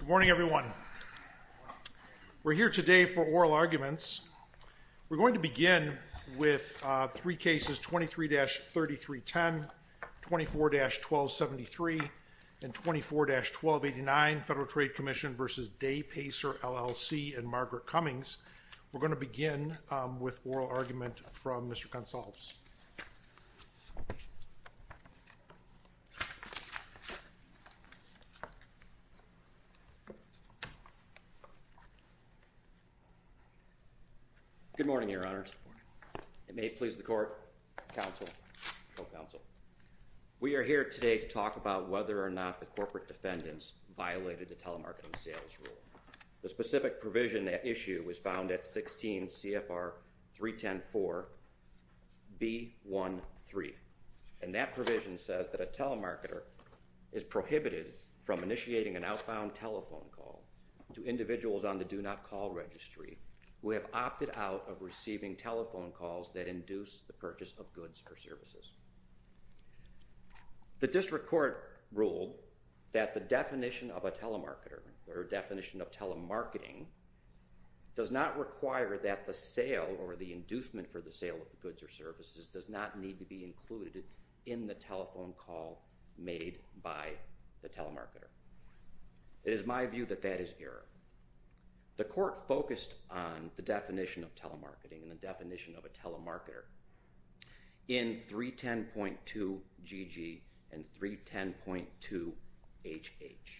Good morning, everyone. We're here today for oral arguments. We're going to begin with three cases, 23-3310, 24-1273, and 24-1289, Federal Trade Commission v. Day Pacer LLC and Margaret Cummings. We're going to begin with oral argument from Mr. Gonsalves. Good morning, Your Honors. Good morning. It may please the court, counsel, co-counsel. We are here today to talk about whether or not the corporate defendants violated the telemarketing sales rule. The specific provision at issue was found at 16 CFR 3104 B.1.3. And that provision says that a telemarketer is prohibited from initiating an outbound telephone call to individuals on the Do Not Call Registry who have opted out of receiving telephone calls that induce the purchase of goods or services. The district court ruled that the definition of a telemarketer or definition of telemarketing does not require that the sale or the inducement for the sale of the goods or services does not need to be included in the telephone call made by the telemarketer. It is my view that that is error. The court focused on the definition of telemarketing and the definition of a telemarketer. In 310.2 GG and 310.2 HH.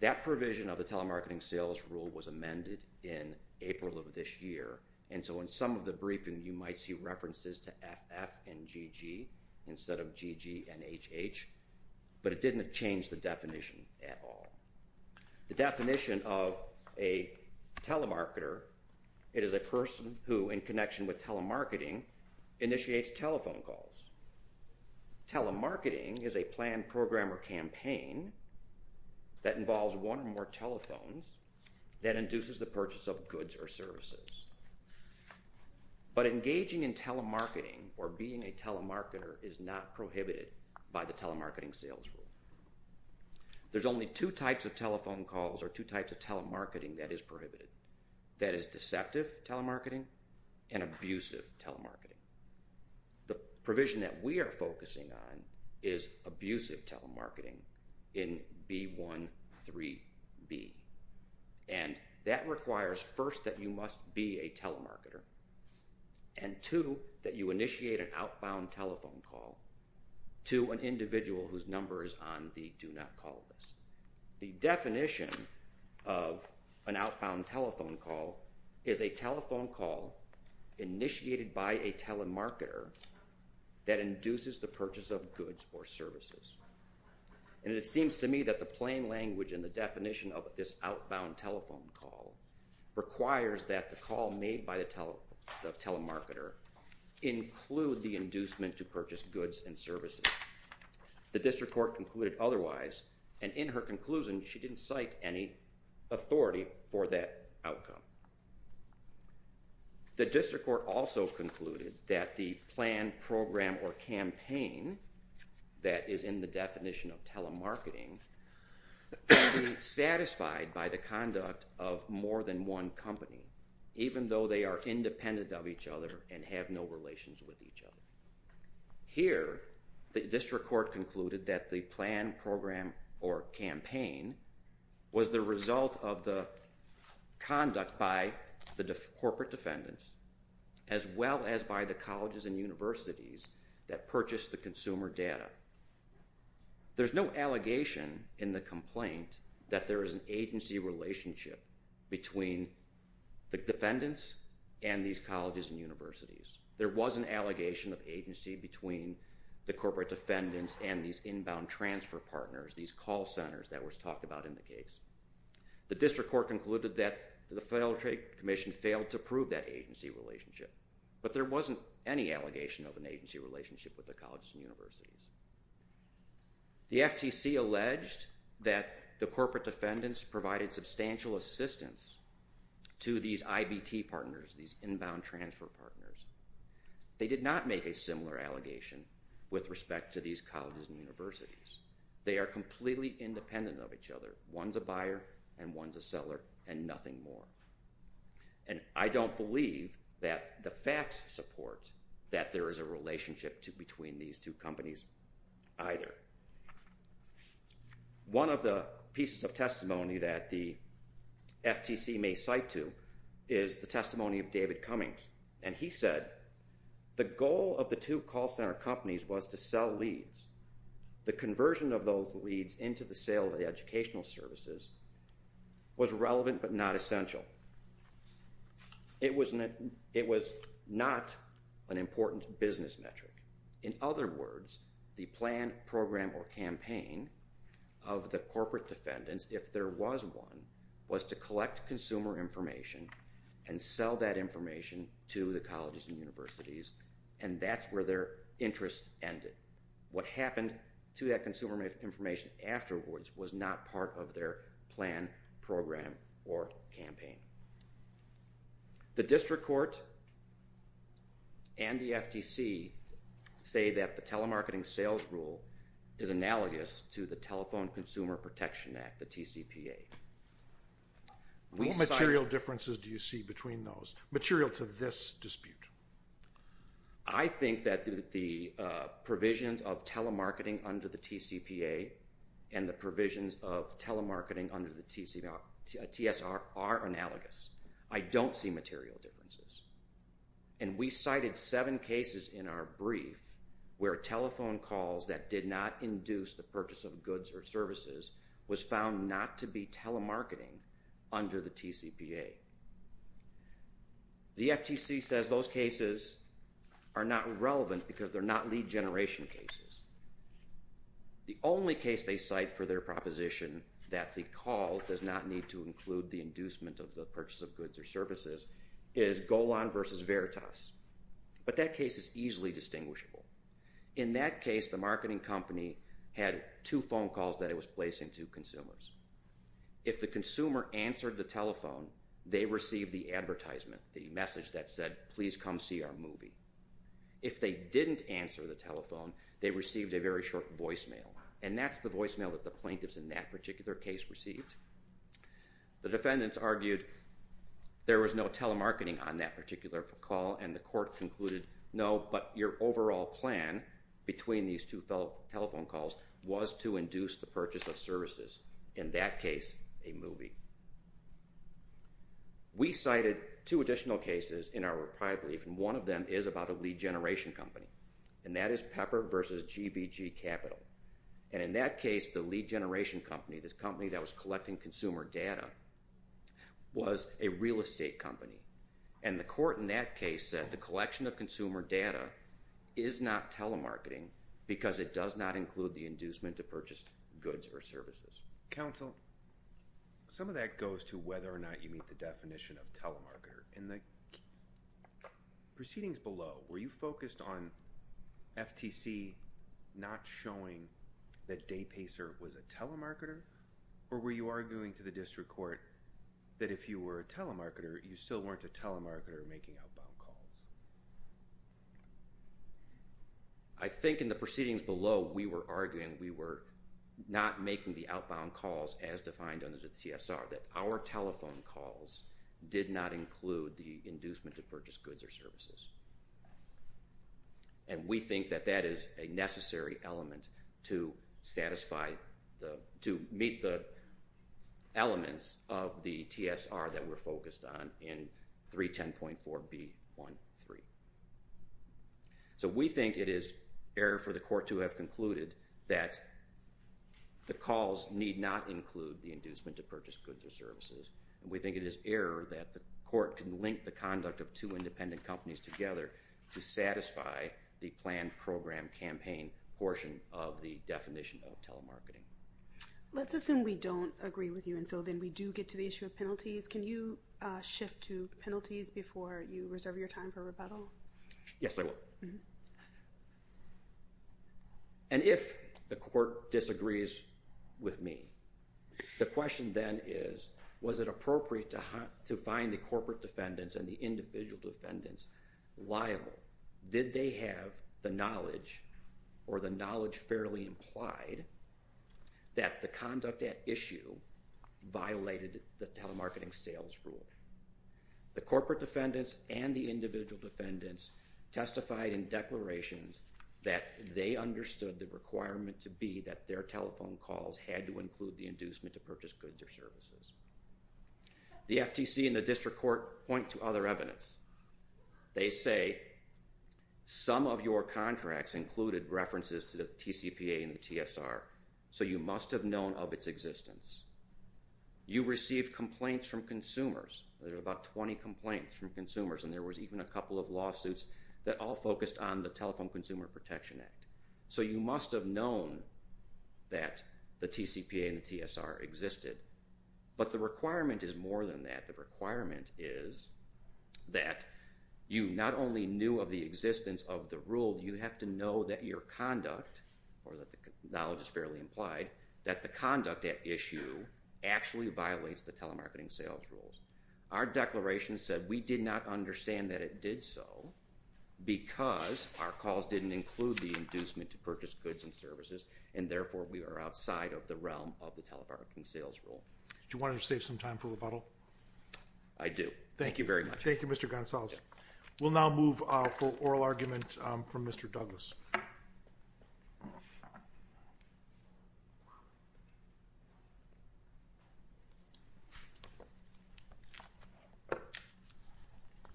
That provision of the telemarketing sales rule was amended in April of this year. And so in some of the briefing, you might see references to FF and GG instead of GG and HH, but it didn't change the definition at all. The definition of a telemarketer, it is a person who in connection with telemarketing initiates telephone calls. Telemarketing is a planned program or campaign that involves one or more telephones that induces the purchase of goods or services. But engaging in telemarketing or being a telemarketer is not prohibited by the telemarketing sales rule. There's only two types of telephone calls or two types of telemarketing that is prohibited. That is deceptive telemarketing and abusive telemarketing. The provision that we are focusing on is abusive telemarketing in B.1.3.B. And that requires first that you must be a telemarketer and two, that you initiate an outbound telephone call to an individual whose number is on the do not call list. The definition of an outbound telephone call is a telephone call initiated by a telemarketer that induces the purchase of goods or services. And it seems to me that the plain language and the definition of this outbound telephone call requires that the call made by the telemarketer include the inducement to purchase goods and The district court concluded otherwise and in her conclusion she didn't cite any authority for that outcome. The district court also concluded that the planned program or campaign that is in the of more than one company even though they are independent of each other and have no relations with each other. Here the district court concluded that the planned program or campaign was the result of the conduct by the corporate defendants as well as by the colleges and universities that purchased the consumer data. There's no allegation in the complaint that there is an agency relationship between the defendants and these colleges and universities. There was an allegation of agency between the corporate defendants and these inbound transfer partners, these call centers that was talked about in the case. The district court concluded that the Federal Trade Commission failed to prove that agency relationship. But there wasn't any allegation of an agency relationship with the colleges and universities. The FTC alleged that the corporate defendants provided substantial assistance to these IBT partners, these inbound transfer partners. They did not make a similar allegation with respect to these colleges and universities. They are completely independent of each other. One's a buyer and one's a seller and nothing more. And I don't believe that the facts support that there is a relationship between these two companies either. One of the pieces of testimony that the FTC may cite to is the testimony of David Cummings. And he said, the goal of the two call center companies was to sell leads. The conversion of those leads into the sale of the educational services was relevant but not essential. It was not an important business metric. In other words, the plan, program, or campaign of the corporate defendants, if there was one, was to collect consumer information and sell that information to the colleges and universities and that's where their interest ended. What happened to that consumer information afterwards was not part of their plan, program, or campaign. The district court and the FTC say that the telemarketing sales rule is analogous to the Telephone Consumer Protection Act, the TCPA. What material differences do you see between those, material to this dispute? I think that the provisions of telemarketing under the TCPA and the provisions of telemarketing under the TSR are analogous. I don't see material differences. And we cited seven cases in our brief where telephone calls that did not induce the purchase of goods or services was found not to be telemarketing under the TCPA. The FTC says those cases are not relevant because they're not lead generation cases. The only case they cite for their proposition that the call does not need to include the inducement of the purchase of goods or services is Golan versus Veritas. But that case is easily distinguishable. In that case, the marketing company had two phone calls that it was placing to consumers. If the consumer answered the telephone, they received the advertisement, the message that said, please come see our movie. If they didn't answer the telephone, they received a very short voicemail. And that's the voicemail that the plaintiffs in that particular case received. The defendants argued there was no telemarketing on that particular call and the court concluded, no, but your overall plan between these two telephone calls was to induce the purchase of services, in that case, a movie. We cited two additional cases in our reprieve, and one of them is about a lead generation company, and that is Pepper versus GBG Capital. And in that case, the lead generation company, this company that was collecting consumer data, was a real estate company. And the court in that case said the collection of consumer data is not telemarketing because it does not include the inducement to purchase goods or services. Counsel, some of that goes to whether or not you meet the definition of telemarketer. In the proceedings below, were you focused on FTC not showing that Daypacer was a telemarketer, or were you arguing to the district court that if you were a telemarketer, you still weren't a telemarketer making outbound calls? I think in the proceedings below, we were arguing we were not making the outbound calls as defined under the TSR, that our telephone calls did not include the inducement to purchase goods or services. And we think that that is a necessary element to satisfy the, to meet the elements of the TSR that we're focused on in 310.4b.1.3. So we think it is error for the court to have concluded that the calls need not include the inducement to purchase goods or services, and we think it is error that the court can link the conduct of two independent companies together to satisfy the planned program campaign portion of the definition of telemarketing. Let's assume we don't agree with you, and so then we do get to the issue of penalties. Can you shift to penalties before you reserve your time for rebuttal? Yes, I will. And if the court disagrees with me, the question then is, was it appropriate to find the corporate defendants and the individual defendants liable? Did they have the knowledge or the knowledge fairly implied that the conduct at issue violated the telemarketing sales rule? The corporate defendants and the individual defendants testified in declarations that they understood the requirement to be that their telephone calls had to include the inducement to purchase goods or services. The FTC and the district court point to other evidence. They say some of your contracts included references to the TCPA and the TSR, so you must have known of its existence. You received complaints from consumers. There were about 20 complaints from consumers, and there was even a couple of lawsuits that all focused on the Telephone Consumer Protection Act. So you must have known that the TCPA and the TSR existed, but the requirement is more than that. In fact, the requirement is that you not only knew of the existence of the rule, you have to know that your conduct, or that the knowledge is fairly implied, that the conduct at issue actually violates the telemarketing sales rules. Our declaration said we did not understand that it did so because our calls didn't include the inducement to purchase goods and services, and therefore we are outside of the realm of the telemarketing sales rule. Do you want to save some time for rebuttal? I do. Thank you very much. Thank you, Mr. Goncalves. We'll now move for oral argument from Mr. Douglas.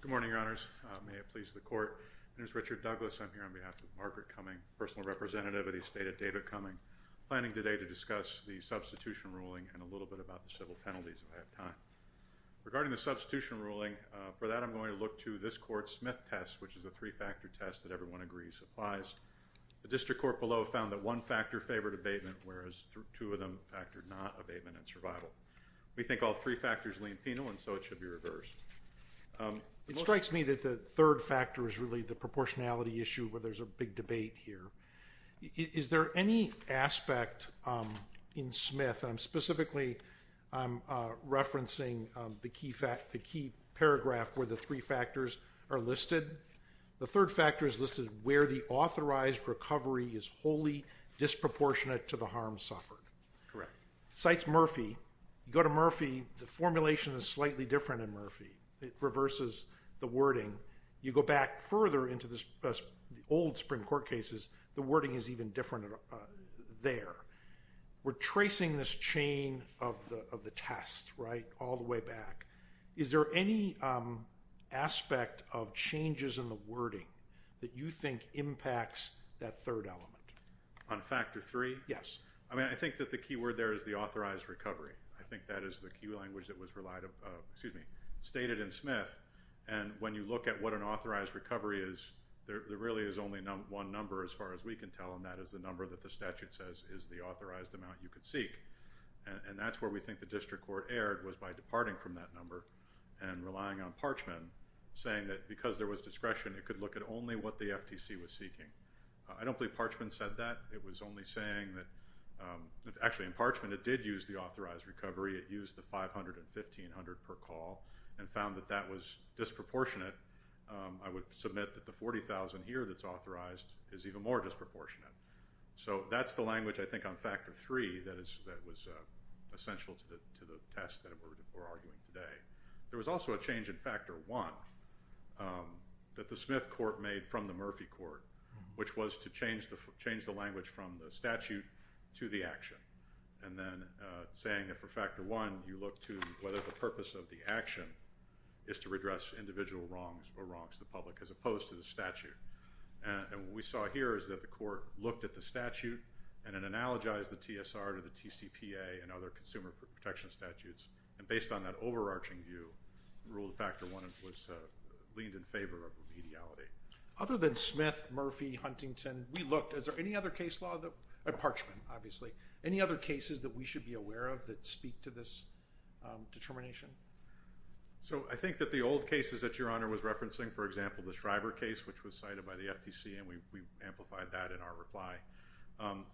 Good morning, Your Honors. May it please the Court. My name is Richard Douglas. I'm here on behalf of Margaret Cumming, personal representative of the estate of David Cumming, and I'm planning today to discuss the substitution ruling and a little bit about the civil penalties if I have time. Regarding the substitution ruling, for that I'm going to look to this Court's Smith test, which is a three-factor test that everyone agrees applies. The district court below found that one factor favored abatement, whereas two of them factored not abatement and survival. We think all three factors lean penal, and so it should be reversed. It strikes me that the third factor is really the proportionality issue where there's a big debate here. Is there any aspect in Smith, and I'm specifically referencing the key paragraph where the three factors are listed. The third factor is listed where the authorized recovery is wholly disproportionate to the harm suffered. Correct. Cites Murphy. You go to Murphy, the formulation is slightly different in Murphy. It reverses the wording. You go back further into the old Supreme Court cases, the wording is even different there. We're tracing this chain of the test, right, all the way back. Is there any aspect of changes in the wording that you think impacts that third element? On factor three? Yes. I mean, I think that the key word there is the authorized recovery. I think that is the key language that was relied upon, excuse me, stated in Smith, and when you look at what an authorized recovery is, there really is only one number as far as we can tell, and that is the number that the statute says is the authorized amount you could seek, and that's where we think the district court erred was by departing from that number and relying on Parchman saying that because there was discretion, it could look at only what the FTC was seeking. I don't believe Parchman said that. It was only saying that, actually in Parchman, it did use the authorized recovery. It used the $500 and $1,500 per call and found that that was disproportionate. I would submit that the $40,000 here that's authorized is even more disproportionate. So that's the language, I think, on factor three that was essential to the test that we're arguing today. There was also a change in factor one that the Smith court made from the Murphy court, which was to change the language from the statute to the action, and then saying that for factor one, you look to whether the purpose of the action is to redress individual wrongs or wrongs to the public, as opposed to the statute, and what we saw here is that the court looked at the statute and it analogized the TSR to the TCPA and other consumer protection statutes, and based on that overarching view, rule of factor one was leaned in favor of remediality. Other than Smith, Murphy, Huntington, we looked, is there any other case law, Parchman, obviously, any other cases that we should be aware of that speak to this determination? So I think that the old cases that Your Honor was referencing, for example, the Shriver case, which was cited by the FTC, and we amplified that in our reply,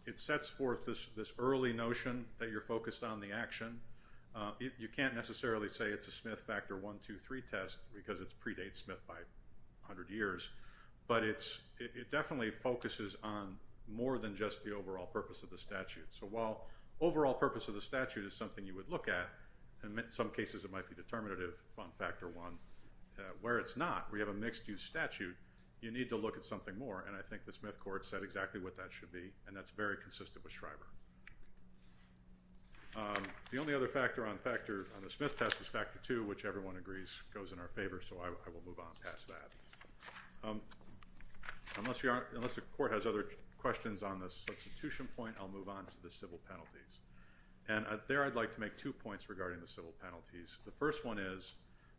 it sets forth this early notion that you're focused on the action. You can't necessarily say it's a Smith factor one, two, three test, because it predates Smith by a hundred years, but it definitely focuses on more than just the overall purpose of the statute. So while overall purpose of the statute is something you would look at, and in some cases it might be determinative on factor one, where it's not, where you have a mixed-use statute, you need to look at something more, and I think the Smith court said exactly what that should be, and that's very consistent with Shriver. The only other factor on the Smith test is factor two, which everyone agrees goes in our favor, so I will move on past that. Unless Your Honor, unless the court has other questions on the substitution point, I'll move on to the civil penalties, and there I'd like to make two points regarding the civil penalties. The first one is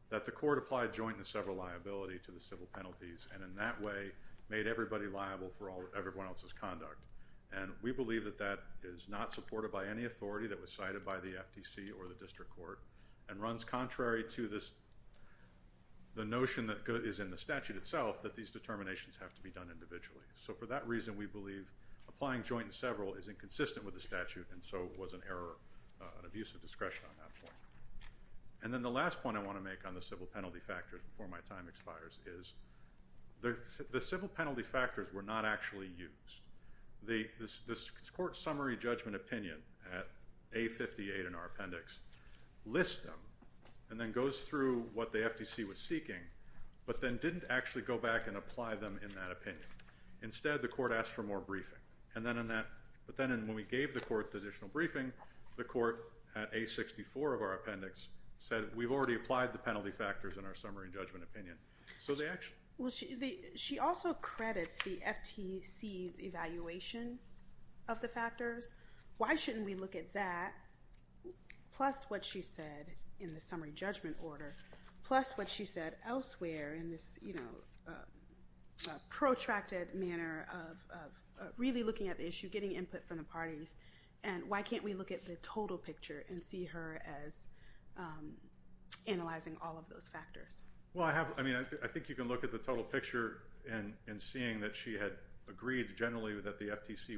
that the court applied joint and several liability to the civil penalties, and in that way made everybody liable for everyone else's conduct, and we believe that that is not supported by any authority that was cited by the FTC or the district court, and runs contrary to this, the notion that is in the statute itself that these determinations have to be done individually. So for that reason, we believe applying joint and several is inconsistent with the statute, and so was an error, an abuse of discretion on that point. And then the last point I want to make on the civil penalty factors before my time expires is the civil penalty factors were not actually used. The court's summary judgment opinion at A58 in our appendix lists them and then goes through what the FTC was seeking, but then didn't actually go back and apply them in that opinion. Instead the court asked for more briefing, and then in that, but then when we gave the court the additional briefing, the court at A64 of our appendix said we've already applied the penalty factors in our summary judgment opinion. So they actually... She also credits the FTC's evaluation of the factors. Why shouldn't we look at that, plus what she said in the summary judgment order, plus what she said elsewhere in this protracted manner of really looking at the issue, getting input from the parties, and why can't we look at the total picture and see her as analyzing all of those factors? Well, I mean, I think you can look at the total picture and seeing that she had agreed generally that the FTC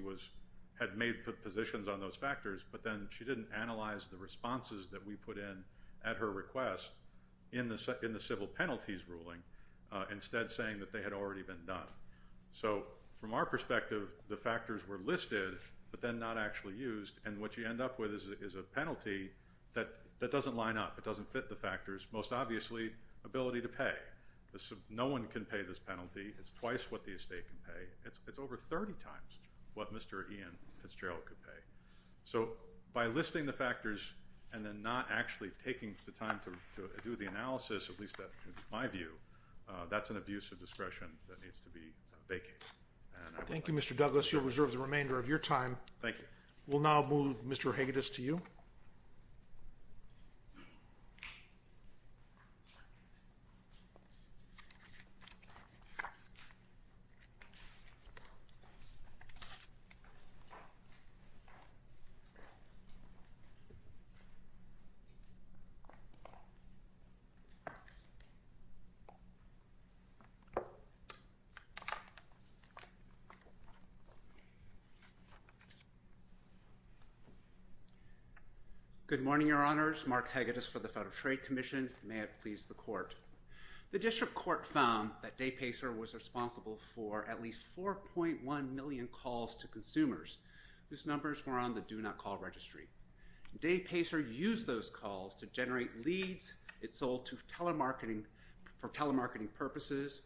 had made positions on those factors, but then she didn't analyze the responses that we put in at her request in the civil penalties ruling, instead saying that they had already been done. So from our perspective, the factors were listed, but then not actually used, and what you end up with is a penalty that doesn't line up, it doesn't fit the factors. There's most obviously ability to pay. No one can pay this penalty. It's twice what the estate can pay. It's over 30 times what Mr. Ian Fitzgerald could pay. So by listing the factors and then not actually taking the time to do the analysis, at least that's my view, that's an abuse of discretion that needs to be vacated. Thank you, Mr. Douglas. You'll reserve the remainder of your time. Thank you. We'll now move Mr. Hagedis to you. Good morning, Your Honors. Mark Hagedis for the Federal Trade Commission. May it please the Court. The District Court found that Dave Pacer was responsible for at least 4.1 million calls to consumers. Those numbers were on the Do Not Call Registry. Dave Pacer used those calls to generate leads. It sold for telemarketing purposes,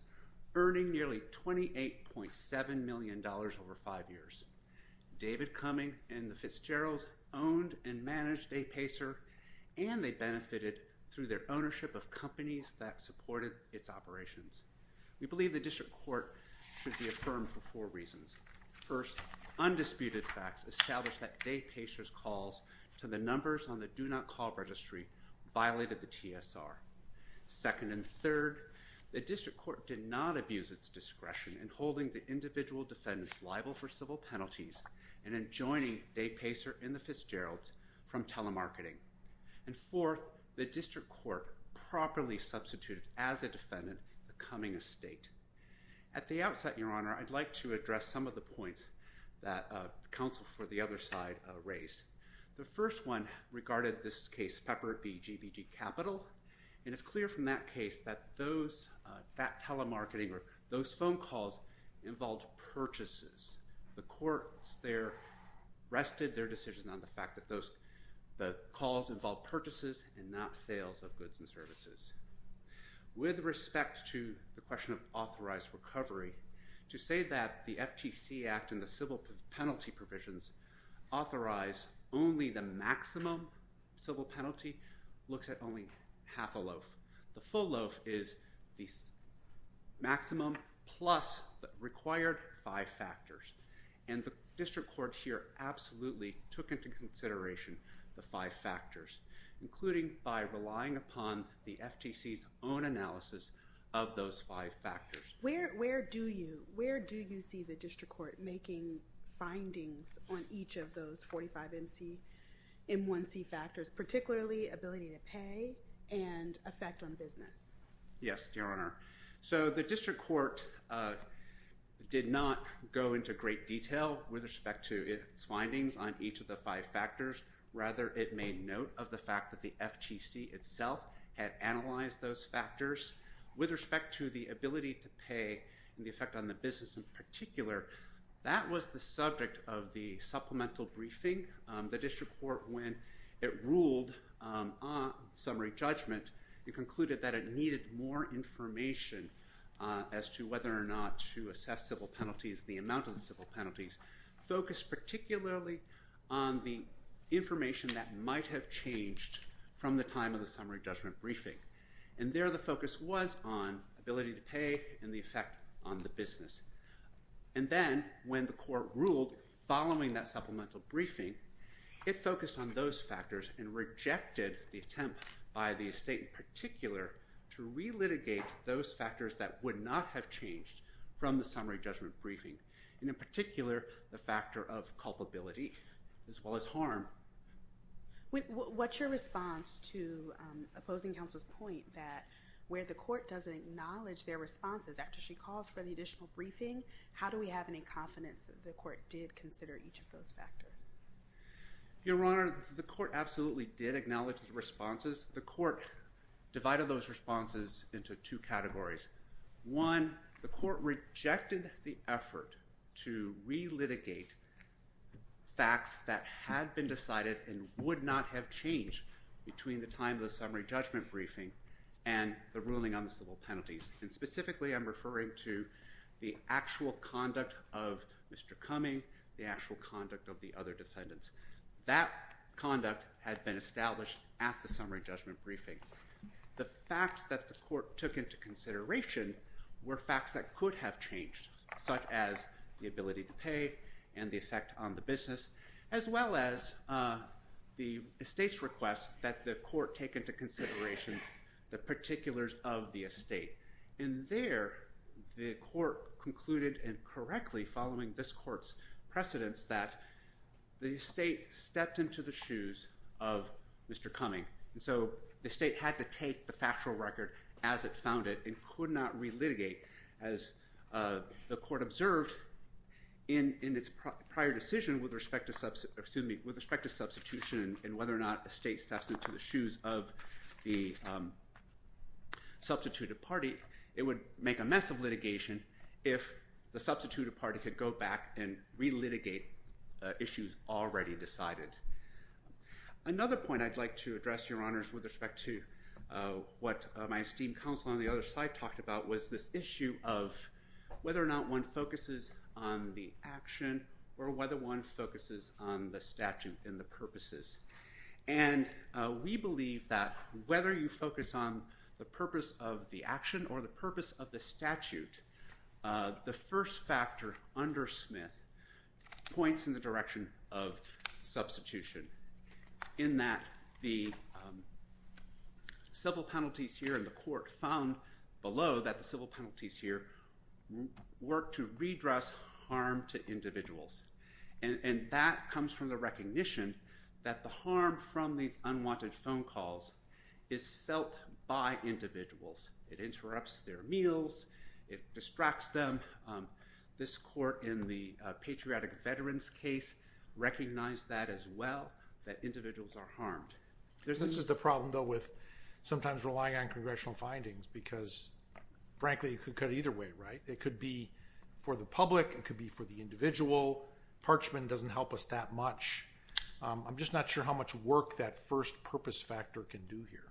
earning nearly $28.7 million over five years. David Cumming and the Fitzgeralds owned and managed Dave Pacer, and they benefited through their ownership of companies that supported its operations. We believe the District Court should be affirmed for four reasons. First, undisputed facts establish that Dave Pacer's calls to the numbers on the Do Not Call Registry violated the TSR. Second and third, the District Court did not abuse its discretion in holding the individual defendants liable for civil penalties and in joining Dave Pacer and the Fitzgeralds from telemarketing. And fourth, the District Court properly substituted, as a defendant, the Cumming estate. At the outset, Your Honor, I'd like to address some of the points that counsel for the other side raised. The first one regarded this case, Pepper v. GBG Capital, and it's clear from that case that those telemarketing or those phone calls involved purchases. The courts there rested their decision on the fact that those calls involved purchases and not sales of goods and services. With respect to the question of authorized recovery, to say that the FTC Act and the civil penalty provisions authorize only the maximum civil penalty looks at only half a loaf. The full loaf is the maximum plus the required five factors. And the District Court here absolutely took into consideration the five factors, including by relying upon the FTC's own analysis of those five factors. Where do you see the District Court making findings on each of those 45M1C factors, particularly ability to pay and effect on business? Yes, Your Honor. So the District Court did not go into great detail with respect to its findings on each of the five factors. Rather, it made note of the fact that the FTC itself had analyzed those factors. With respect to the ability to pay and the effect on the business in particular, that was the subject of the supplemental briefing. The District Court, when it ruled on summary judgment, it concluded that it needed more information as to whether or not to assess civil penalties, the amount of the civil penalties, focused particularly on the information that might have changed from the time of the summary judgment briefing. And there the focus was on ability to pay and the effect on the business. And then when the court ruled following that supplemental briefing, it focused on those factors and rejected the attempt by the estate in particular to relitigate those factors that would not have changed from the summary judgment briefing, and in particular the factor of culpability as well as harm. What's your response to opposing counsel's point that where the court doesn't acknowledge their responses after she calls for the additional briefing, how do we have any confidence that the court did consider each of those factors? Your Honor, the court absolutely did acknowledge the responses. The court divided those responses into two categories. One, the court rejected the effort to relitigate facts that had been decided and would not have changed between the time of the summary judgment briefing and the ruling on the civil penalties, and specifically I'm referring to the actual conduct of Mr. Cumming, the actual conduct of the other defendants. That conduct had been established at the summary judgment briefing. The facts that the court took into consideration were facts that could have changed, such as the ability to pay and the effect on the business, as well as the estate's request that the court take into consideration the particulars of the estate. And there, the court concluded incorrectly, following this court's precedence, that the estate stepped into the shoes of Mr. Cumming, and so the state had to take the factual record as it found it and could not relitigate, as the court observed in its prior decision with respect to substitution and whether or not the state steps into the shoes of the substituted party, it would make a mess of litigation if the substituted party could go back and relitigate issues already decided. Another point I'd like to address, Your Honors, with respect to what my esteemed counsel on the other side talked about was this issue of whether or not one focuses on the action or whether one focuses on the statute and the purposes. And we believe that whether you focus on the purpose of the action or the purpose of the statute, the first factor under Smith points in the direction of substitution, in that the civil penalties here in the court found below that the civil penalties here work to redress harm to individuals. And that comes from the recognition that the harm from these unwanted phone calls is felt by individuals. It interrupts their meals. It distracts them. This court in the patriotic veterans case recognized that as well, that individuals are harmed. This is the problem, though, with sometimes relying on congressional findings, because frankly, it could go either way, right? It could be for the public. It could be for the individual. Parchment doesn't help us that much. I'm just not sure how much work that first purpose factor can do here.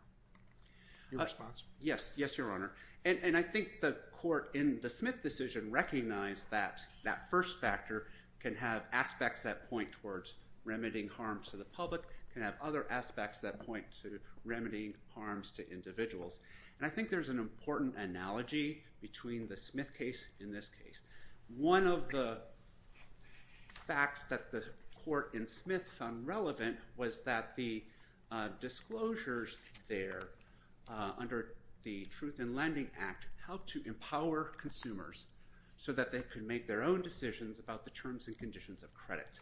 Your response? Yes. Yes, Your Honor. And I think the court in the Smith decision recognized that that first factor can have aspects that point towards remedying harm to the public, can have other aspects that point to remedying harms to individuals. And I think there's an important analogy between the Smith case and this case. One of the facts that the court in Smith found relevant was that the disclosures there under the Truth in Lending Act helped to empower consumers so that they could make their own decisions about the terms and conditions of credit.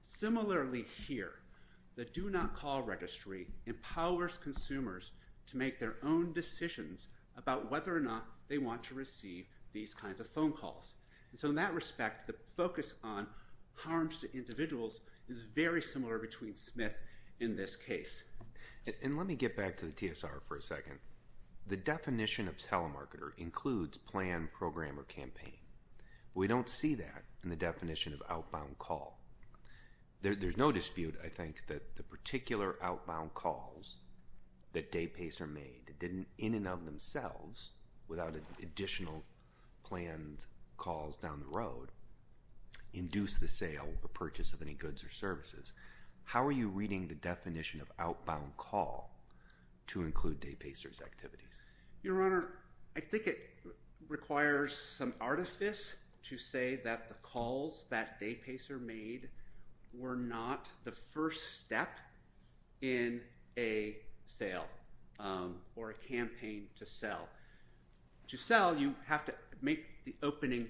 Similarly here, the Do Not Call Registry empowers consumers to make their own decisions about whether or not they want to receive these kinds of phone calls. And so in that respect, the focus on harms to individuals is very similar between Smith and this case. And let me get back to the TSR for a second. The definition of telemarketer includes plan, program, or campaign. We don't see that in the definition of outbound call. There's no dispute, I think, that the particular outbound calls that Day-Pacer made didn't in and of themselves, without additional planned calls down the road, induce the sale or purchase of any goods or services. How are you reading the definition of outbound call to include Day-Pacer's activities? Your Honor, I think it requires some artifice to say that the calls that Day-Pacer made were not the first step in a sale or a campaign to sell. To sell, you have to make the opening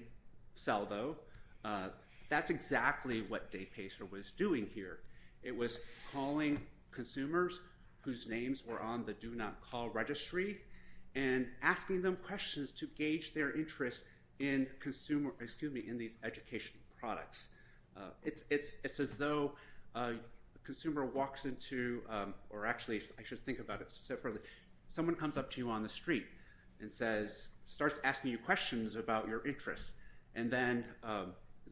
sell, though. That's exactly what Day-Pacer was doing here. It was calling consumers whose names were on the Do Not Call Registry and asking them questions to gauge their interest in these educational products. It's as though a consumer walks into—or actually, I should think about it. Someone comes up to you on the street and starts asking you questions about your interests, and then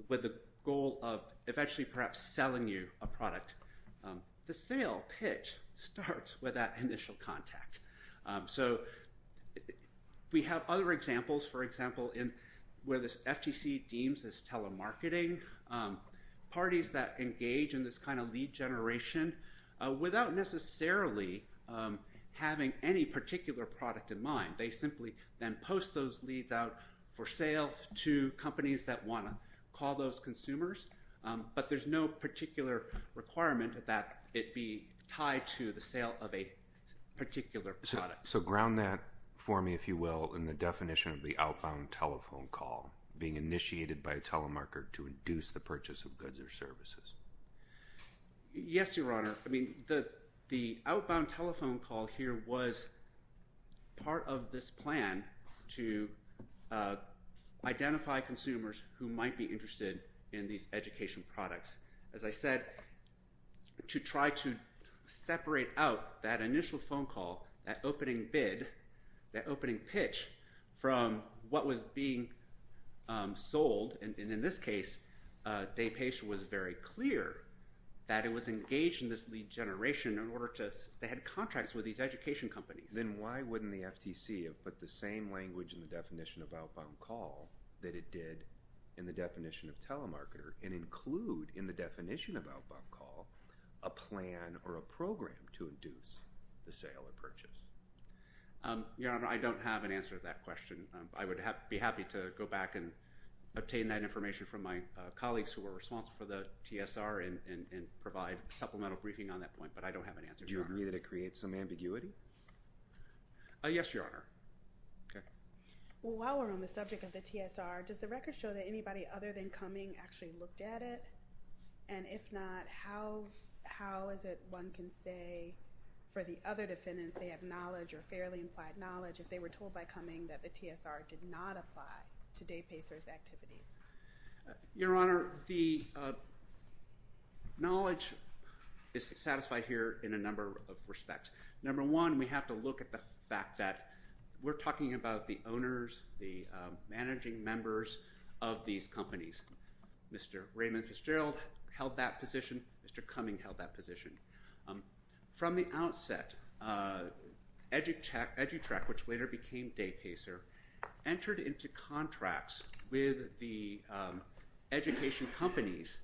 with the goal of eventually perhaps selling you a product, the sale pitch starts with that initial contact. We have other examples, for example, where the FTC deems this telemarketing, parties that engage in this kind of lead generation without necessarily having any particular product in mind. They simply then post those leads out for sale to companies that want to call those consumers, but there's no particular requirement that it be tied to the sale of a particular product. So ground that for me, if you will, in the definition of the outbound telephone call being initiated by a telemarketer to induce the purchase of goods or services. Yes, Your Honor. I mean, the outbound telephone call here was part of this plan to identify consumers who might be interested in these educational products. As I said, to try to separate out that initial phone call, that opening bid, that opening pitch from what was being sold, and in this case, Day Patient was very clear that it was engaged in this lead generation in order to, they had contracts with these education companies. Then why wouldn't the FTC have put the same language in the definition of outbound call that it did in the definition of telemarketer and include in the definition of outbound call a plan or a program to induce the sale or purchase? Your Honor, I don't have an answer to that question. I would be happy to go back and obtain that information from my colleagues who were responsible for the TSR and provide supplemental briefing on that point, but I don't have an answer, Your Honor. Do you agree that it creates some ambiguity? Yes, Your Honor. Okay. Well, while we're on the subject of the TSR, does the record show that anybody other than Cumming actually looked at it, and if not, how is it one can say for the other defendants they have knowledge or fairly implied knowledge if they were told by Cumming that the TSR did not apply to Day Pacers' activities? Your Honor, the knowledge is satisfied here in a number of respects. Number one, we have to look at the fact that we're talking about the owners, the managing members of these companies. Mr. Raymond Fitzgerald held that position. Mr. Cumming held that position. From the outset, EduTrac, which later became Day Pacer, entered into contracts with the education companies,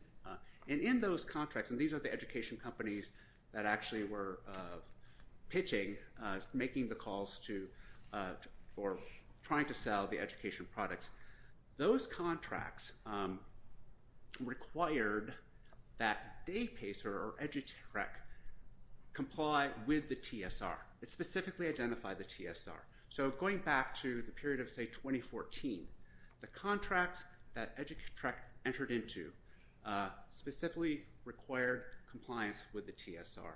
and in those contracts, and these are the education companies that actually were pitching, making the calls for trying to sell the education products. Those contracts required that Day Pacer or EduTrac comply with the TSR. It specifically identified the TSR. So going back to the period of, say, 2014, the contracts that EduTrac entered into specifically required compliance with the TSR.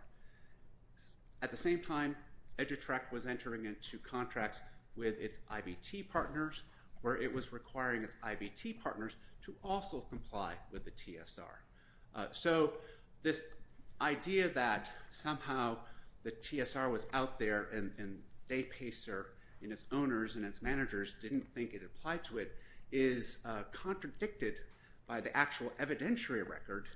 At the same time, EduTrac was entering into contracts with its IBT partners where it was requiring its IBT partners to also comply with the TSR. So this idea that somehow the TSR was out there and Day Pacer and its owners and its managers didn't think it applied to it is contradicted by the actual evidentiary record,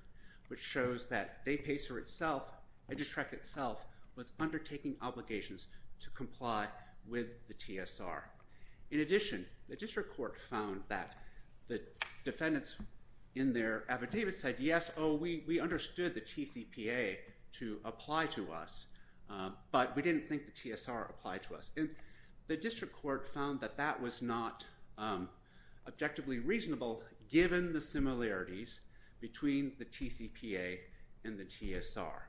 which shows that Day Pacer itself, EduTrac itself, was undertaking obligations to comply with the TSR. In addition, the district court found that the defendants in their affidavit said, yes, oh, we understood the TCPA to apply to us, but we didn't think the TSR applied to us. And the district court found that that was not objectively reasonable given the similarities between the TCPA and the TSR.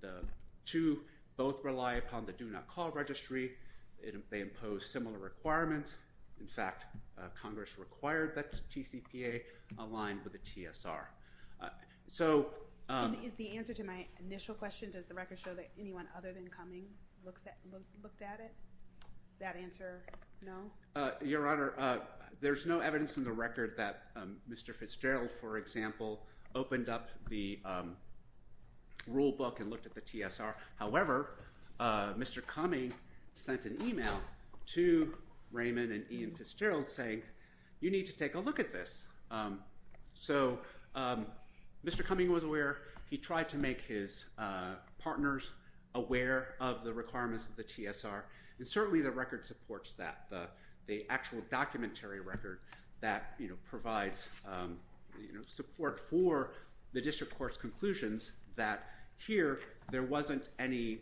The two both rely upon the Do Not Call Registry. They impose similar requirements. In fact, Congress required that the TCPA align with the TSR. Is the answer to my initial question, does the record show that anyone other than Cumming looked at it? Is that answer no? Your Honor, there's no evidence in the record that Mr. Fitzgerald, for example, opened up the rule book and looked at the TSR. However, Mr. Cumming sent an email to Raymond and Ian Fitzgerald saying, you need to take a look at this. So Mr. Cumming was aware. He tried to make his partners aware of the requirements of the TSR. And certainly the record supports that. The actual documentary record that provides support for the district court's conclusions that here there wasn't any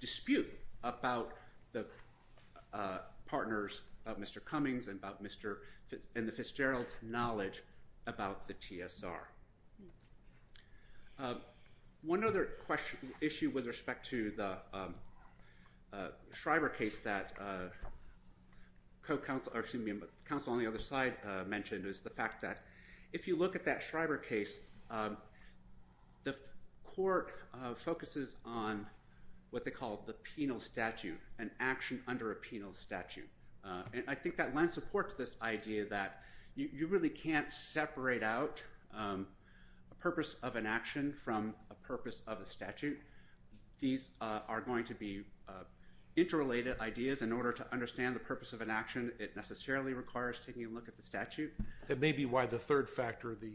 dispute about the partners of Mr. Cummings and the Fitzgerald knowledge about the TSR. One other issue with respect to the Schreiber case that counsel on the other side mentioned is the fact that if you look at that Schreiber case, the court focuses on what they call the penal statute, an action under a penal statute. And I think that lends support to this idea that you really can't separate out a purpose of an action from a purpose of a statute. These are going to be interrelated ideas. In order to understand the purpose of an action, it necessarily requires taking a look at the It may be why the third factor, the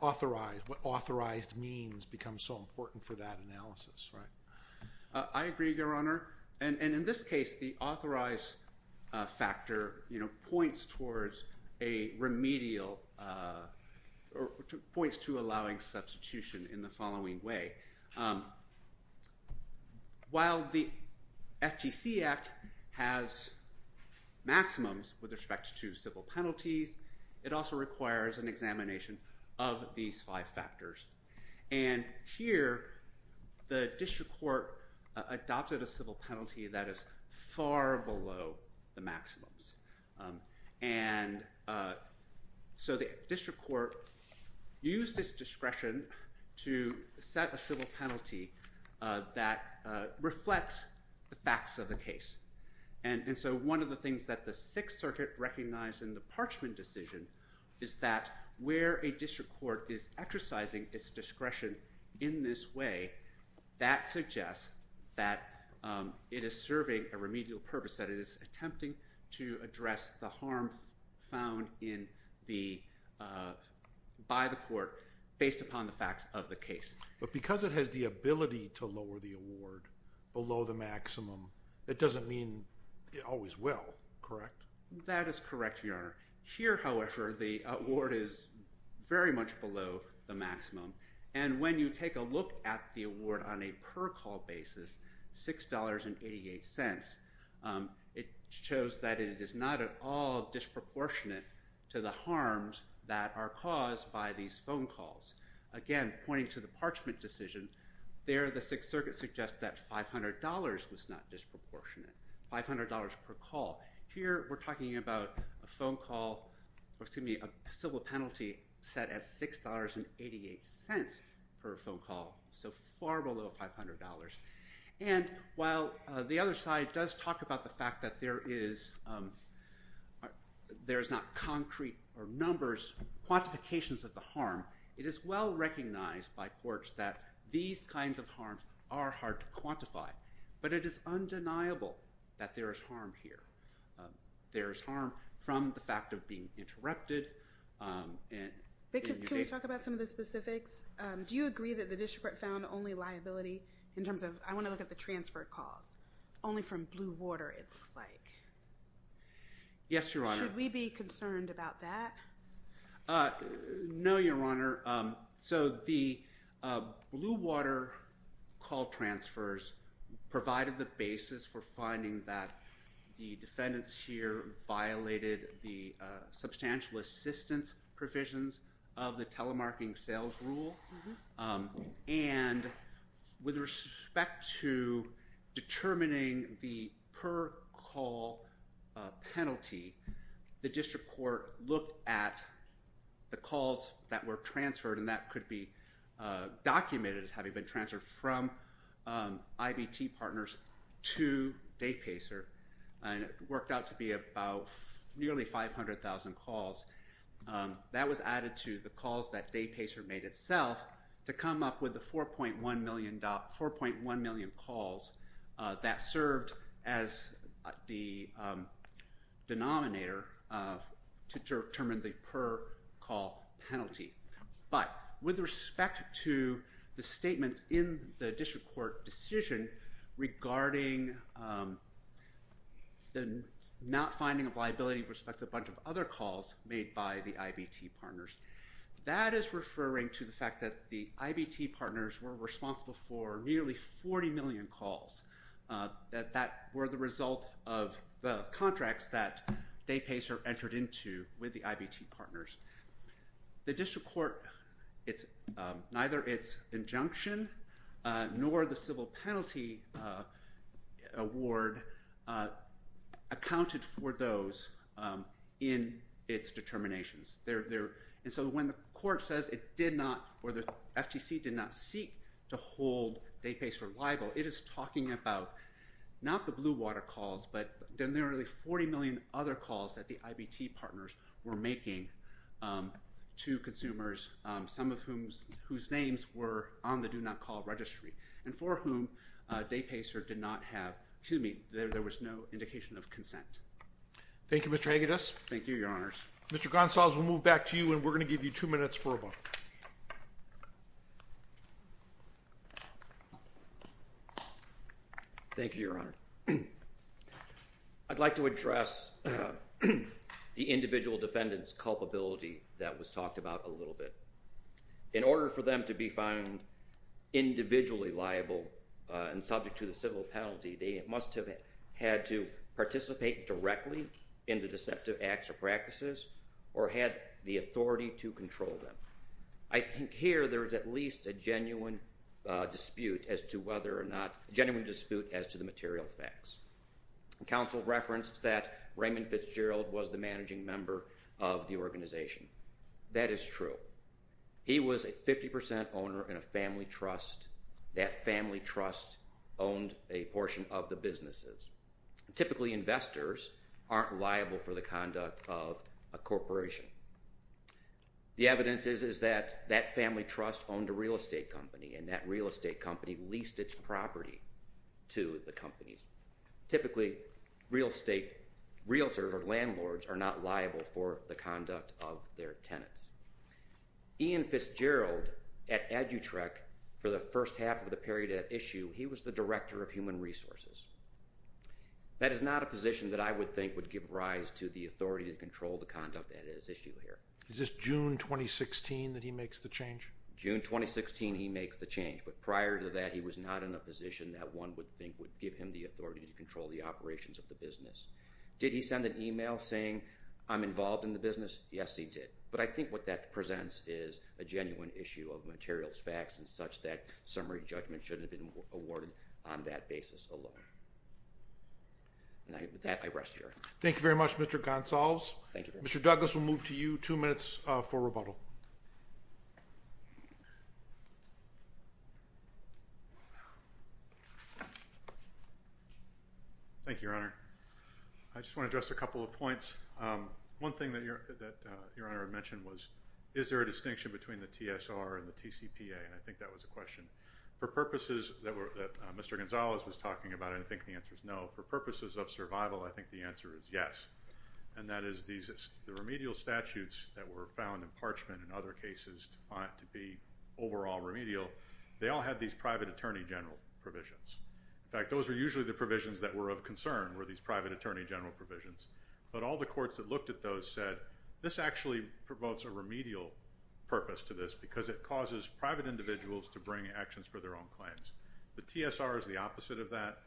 authorized, what authorized means become so important for that analysis, right? I agree, Your Honor. And in this case, the authorized factor points towards a remedial or points to allowing substitution in the following way. While the FTC Act has maximums with respect to civil penalties, it also requires an examination of these five factors. And here, the district court adopted a civil penalty that is far below the maximums. And so the district court used its discretion to set a civil penalty that reflects the facts of the case. And so one of the things that the Sixth Circuit recognized in the Parchman decision is that where a district court is exercising its discretion in this way, that suggests that it is serving a remedial purpose, that it is attempting to address the harm found by the court based upon the facts of the case. But because it has the ability to lower the award below the maximum, that doesn't mean it always will, correct? That is correct, Your Honor. Here, however, the award is very much below the maximum. And when you take a look at the award on a per-call basis, $6.88, it shows that it is not at all disproportionate to the harms that are caused by these phone calls. Again, pointing to the Parchman decision, there the Sixth Circuit suggests that $500 was not disproportionate, $500 per call. Here, we're talking about a phone call, excuse me, a civil penalty set at $6.88 per phone call, so far below $500. And while the other side does talk about the fact that there is not concrete numbers, quantifications of the harm, it is well recognized by courts that these kinds of harms are hard to quantify. But it is undeniable that there is harm here. There is harm from the fact of being interrupted. Can we talk about some of the specifics? Do you agree that the district found only liability in terms of, I want to look at the transferred calls, only from Blue Water, it looks like. Yes, Your Honor. Should we be concerned about that? No, Your Honor. So the Blue Water call transfers provided the basis for finding that the defendants here violated the substantial assistance provisions of the telemarketing sales rule. And with respect to determining the per-call penalty, the district court looked at the calls that were transferred, and that could be documented as having been transferred from IBT partners to Daypacer, and it worked out to be about nearly 500,000 calls. That was added to the calls that Daypacer made itself to come up with the 4.1 million calls that served as the denominator to determine the per-call penalty. But with respect to the statements in the district court decision regarding the not finding of liability with respect to a bunch of other calls made by the IBT partners, that is referring to the fact that the IBT partners were responsible for nearly 40 million calls that were the result of the contracts that Daypacer entered into with the IBT partners. The district court, neither its injunction nor the civil penalty award accounted for those in its determinations. And so when the court says it did not, or the FTC did not seek to hold Daypacer liable, it is talking about not the Blue Water calls, but the nearly 40 million other calls that the IBT partners were making to consumers, some of whose names were on the Do Not Call registry, and for whom Daypacer did not have, excuse me, there was no indication of consent. Thank you, Mr. Haggadis. Thank you, Your Honors. Mr. Gonzalez, we'll move back to you and we're going to give you two minutes for a moment. Thank you, Your Honor. I'd like to address the individual defendant's culpability that was talked about a little bit. In order for them to be found individually liable and subject to the civil penalty, they must have had to participate directly in the deceptive acts or practices or had the authority to control them. I think here there is at least a genuine dispute as to whether or not, a genuine dispute as to the material facts. Counsel referenced that Raymond Fitzgerald was the managing member of the organization. That is true. He was a 50% owner in a family trust. That family trust owned a portion of the businesses. Typically, investors aren't liable for the conduct of a corporation. The evidence is that that family trust owned a real estate company and that real estate company leased its property to the companies. Typically, real estate realtors or landlords are not liable for the conduct of their tenants. Ian Fitzgerald at Adutrec for the first half of the period at issue, he was the Director of Human Resources. That is not a position that I would think would give rise to the authority to control the conduct at issue here. Is this June 2016 that he makes the change? June 2016 he makes the change, but prior to that he was not in a position that one would think would give him the authority to control the operations of the business. Did he send an email saying, I'm involved in the business? Yes, he did. But I think what that presents is a genuine issue of materials facts and such that summary judgment shouldn't have been awarded on that basis alone. With that, I rest here. Thank you very much, Mr. Gonsalves. Mr. Douglas, we'll move to you. Two minutes for rebuttal. Thank you, Your Honor. I just want to address a couple of points. One thing that Your Honor mentioned was, is there a distinction between the TSR and the TCPA? And I think that was a question. For purposes that Mr. Gonsalves was talking about, I think the answer is no. For purposes of survival, I think the answer is yes. And that is the remedial statutes that were found in Parchment and other cases to be overall remedial, they all had these private attorney general provisions. In fact, those were usually the provisions that were of concern were these private attorney general provisions. But all the courts that looked at those said, this actually promotes a remedial purpose to this because it causes private individuals to bring actions for their own claims. The TSR is the opposite of that.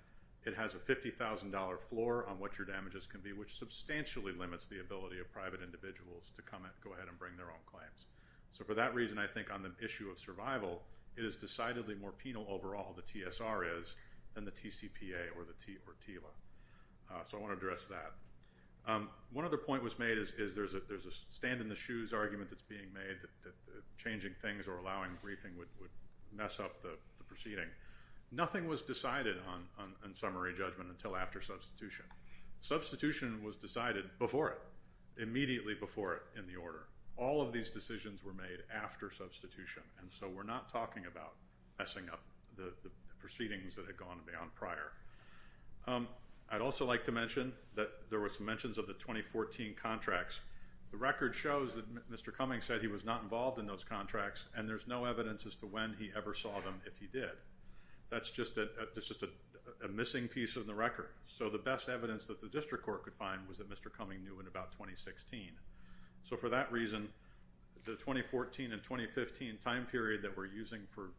It has a $50,000 floor on what your damages can be, which substantially limits the ability of private individuals to come and go ahead and bring their own claims. So for that reason, I think on the issue of survival, it is decidedly more penal overall the TSR is than the TCPA or TILA. So I want to address that. One other point was made is that there is a stand in the shoes argument that is being made that changing things or allowing briefing would mess up the proceeding. Nothing was decided on summary judgment until after substitution. Substitution was decided before it, immediately before it in the order. All of these decisions were made after substitution. And so we are not talking about messing up the proceedings that had gone beyond prior. I would also like to mention that there were some mentions of the 2014 contracts. The record shows that Mr. Cummings said he was not involved in those contracts and there is no evidence as to when he ever saw them if he did. That is just a missing piece of the record. So the best evidence that the district court could find was that Mr. Cummings knew in about 2016. So for that reason, the 2014 and 2015 time period that we are using for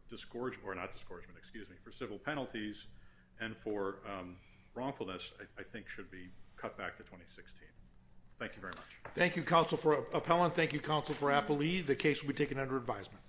civil penalties and for wrongfulness I think should be cut back to 2016. Thank you very much. Thank you Counsel for Appellant. Thank you Counsel for Appellee. The case will be taken under advisement.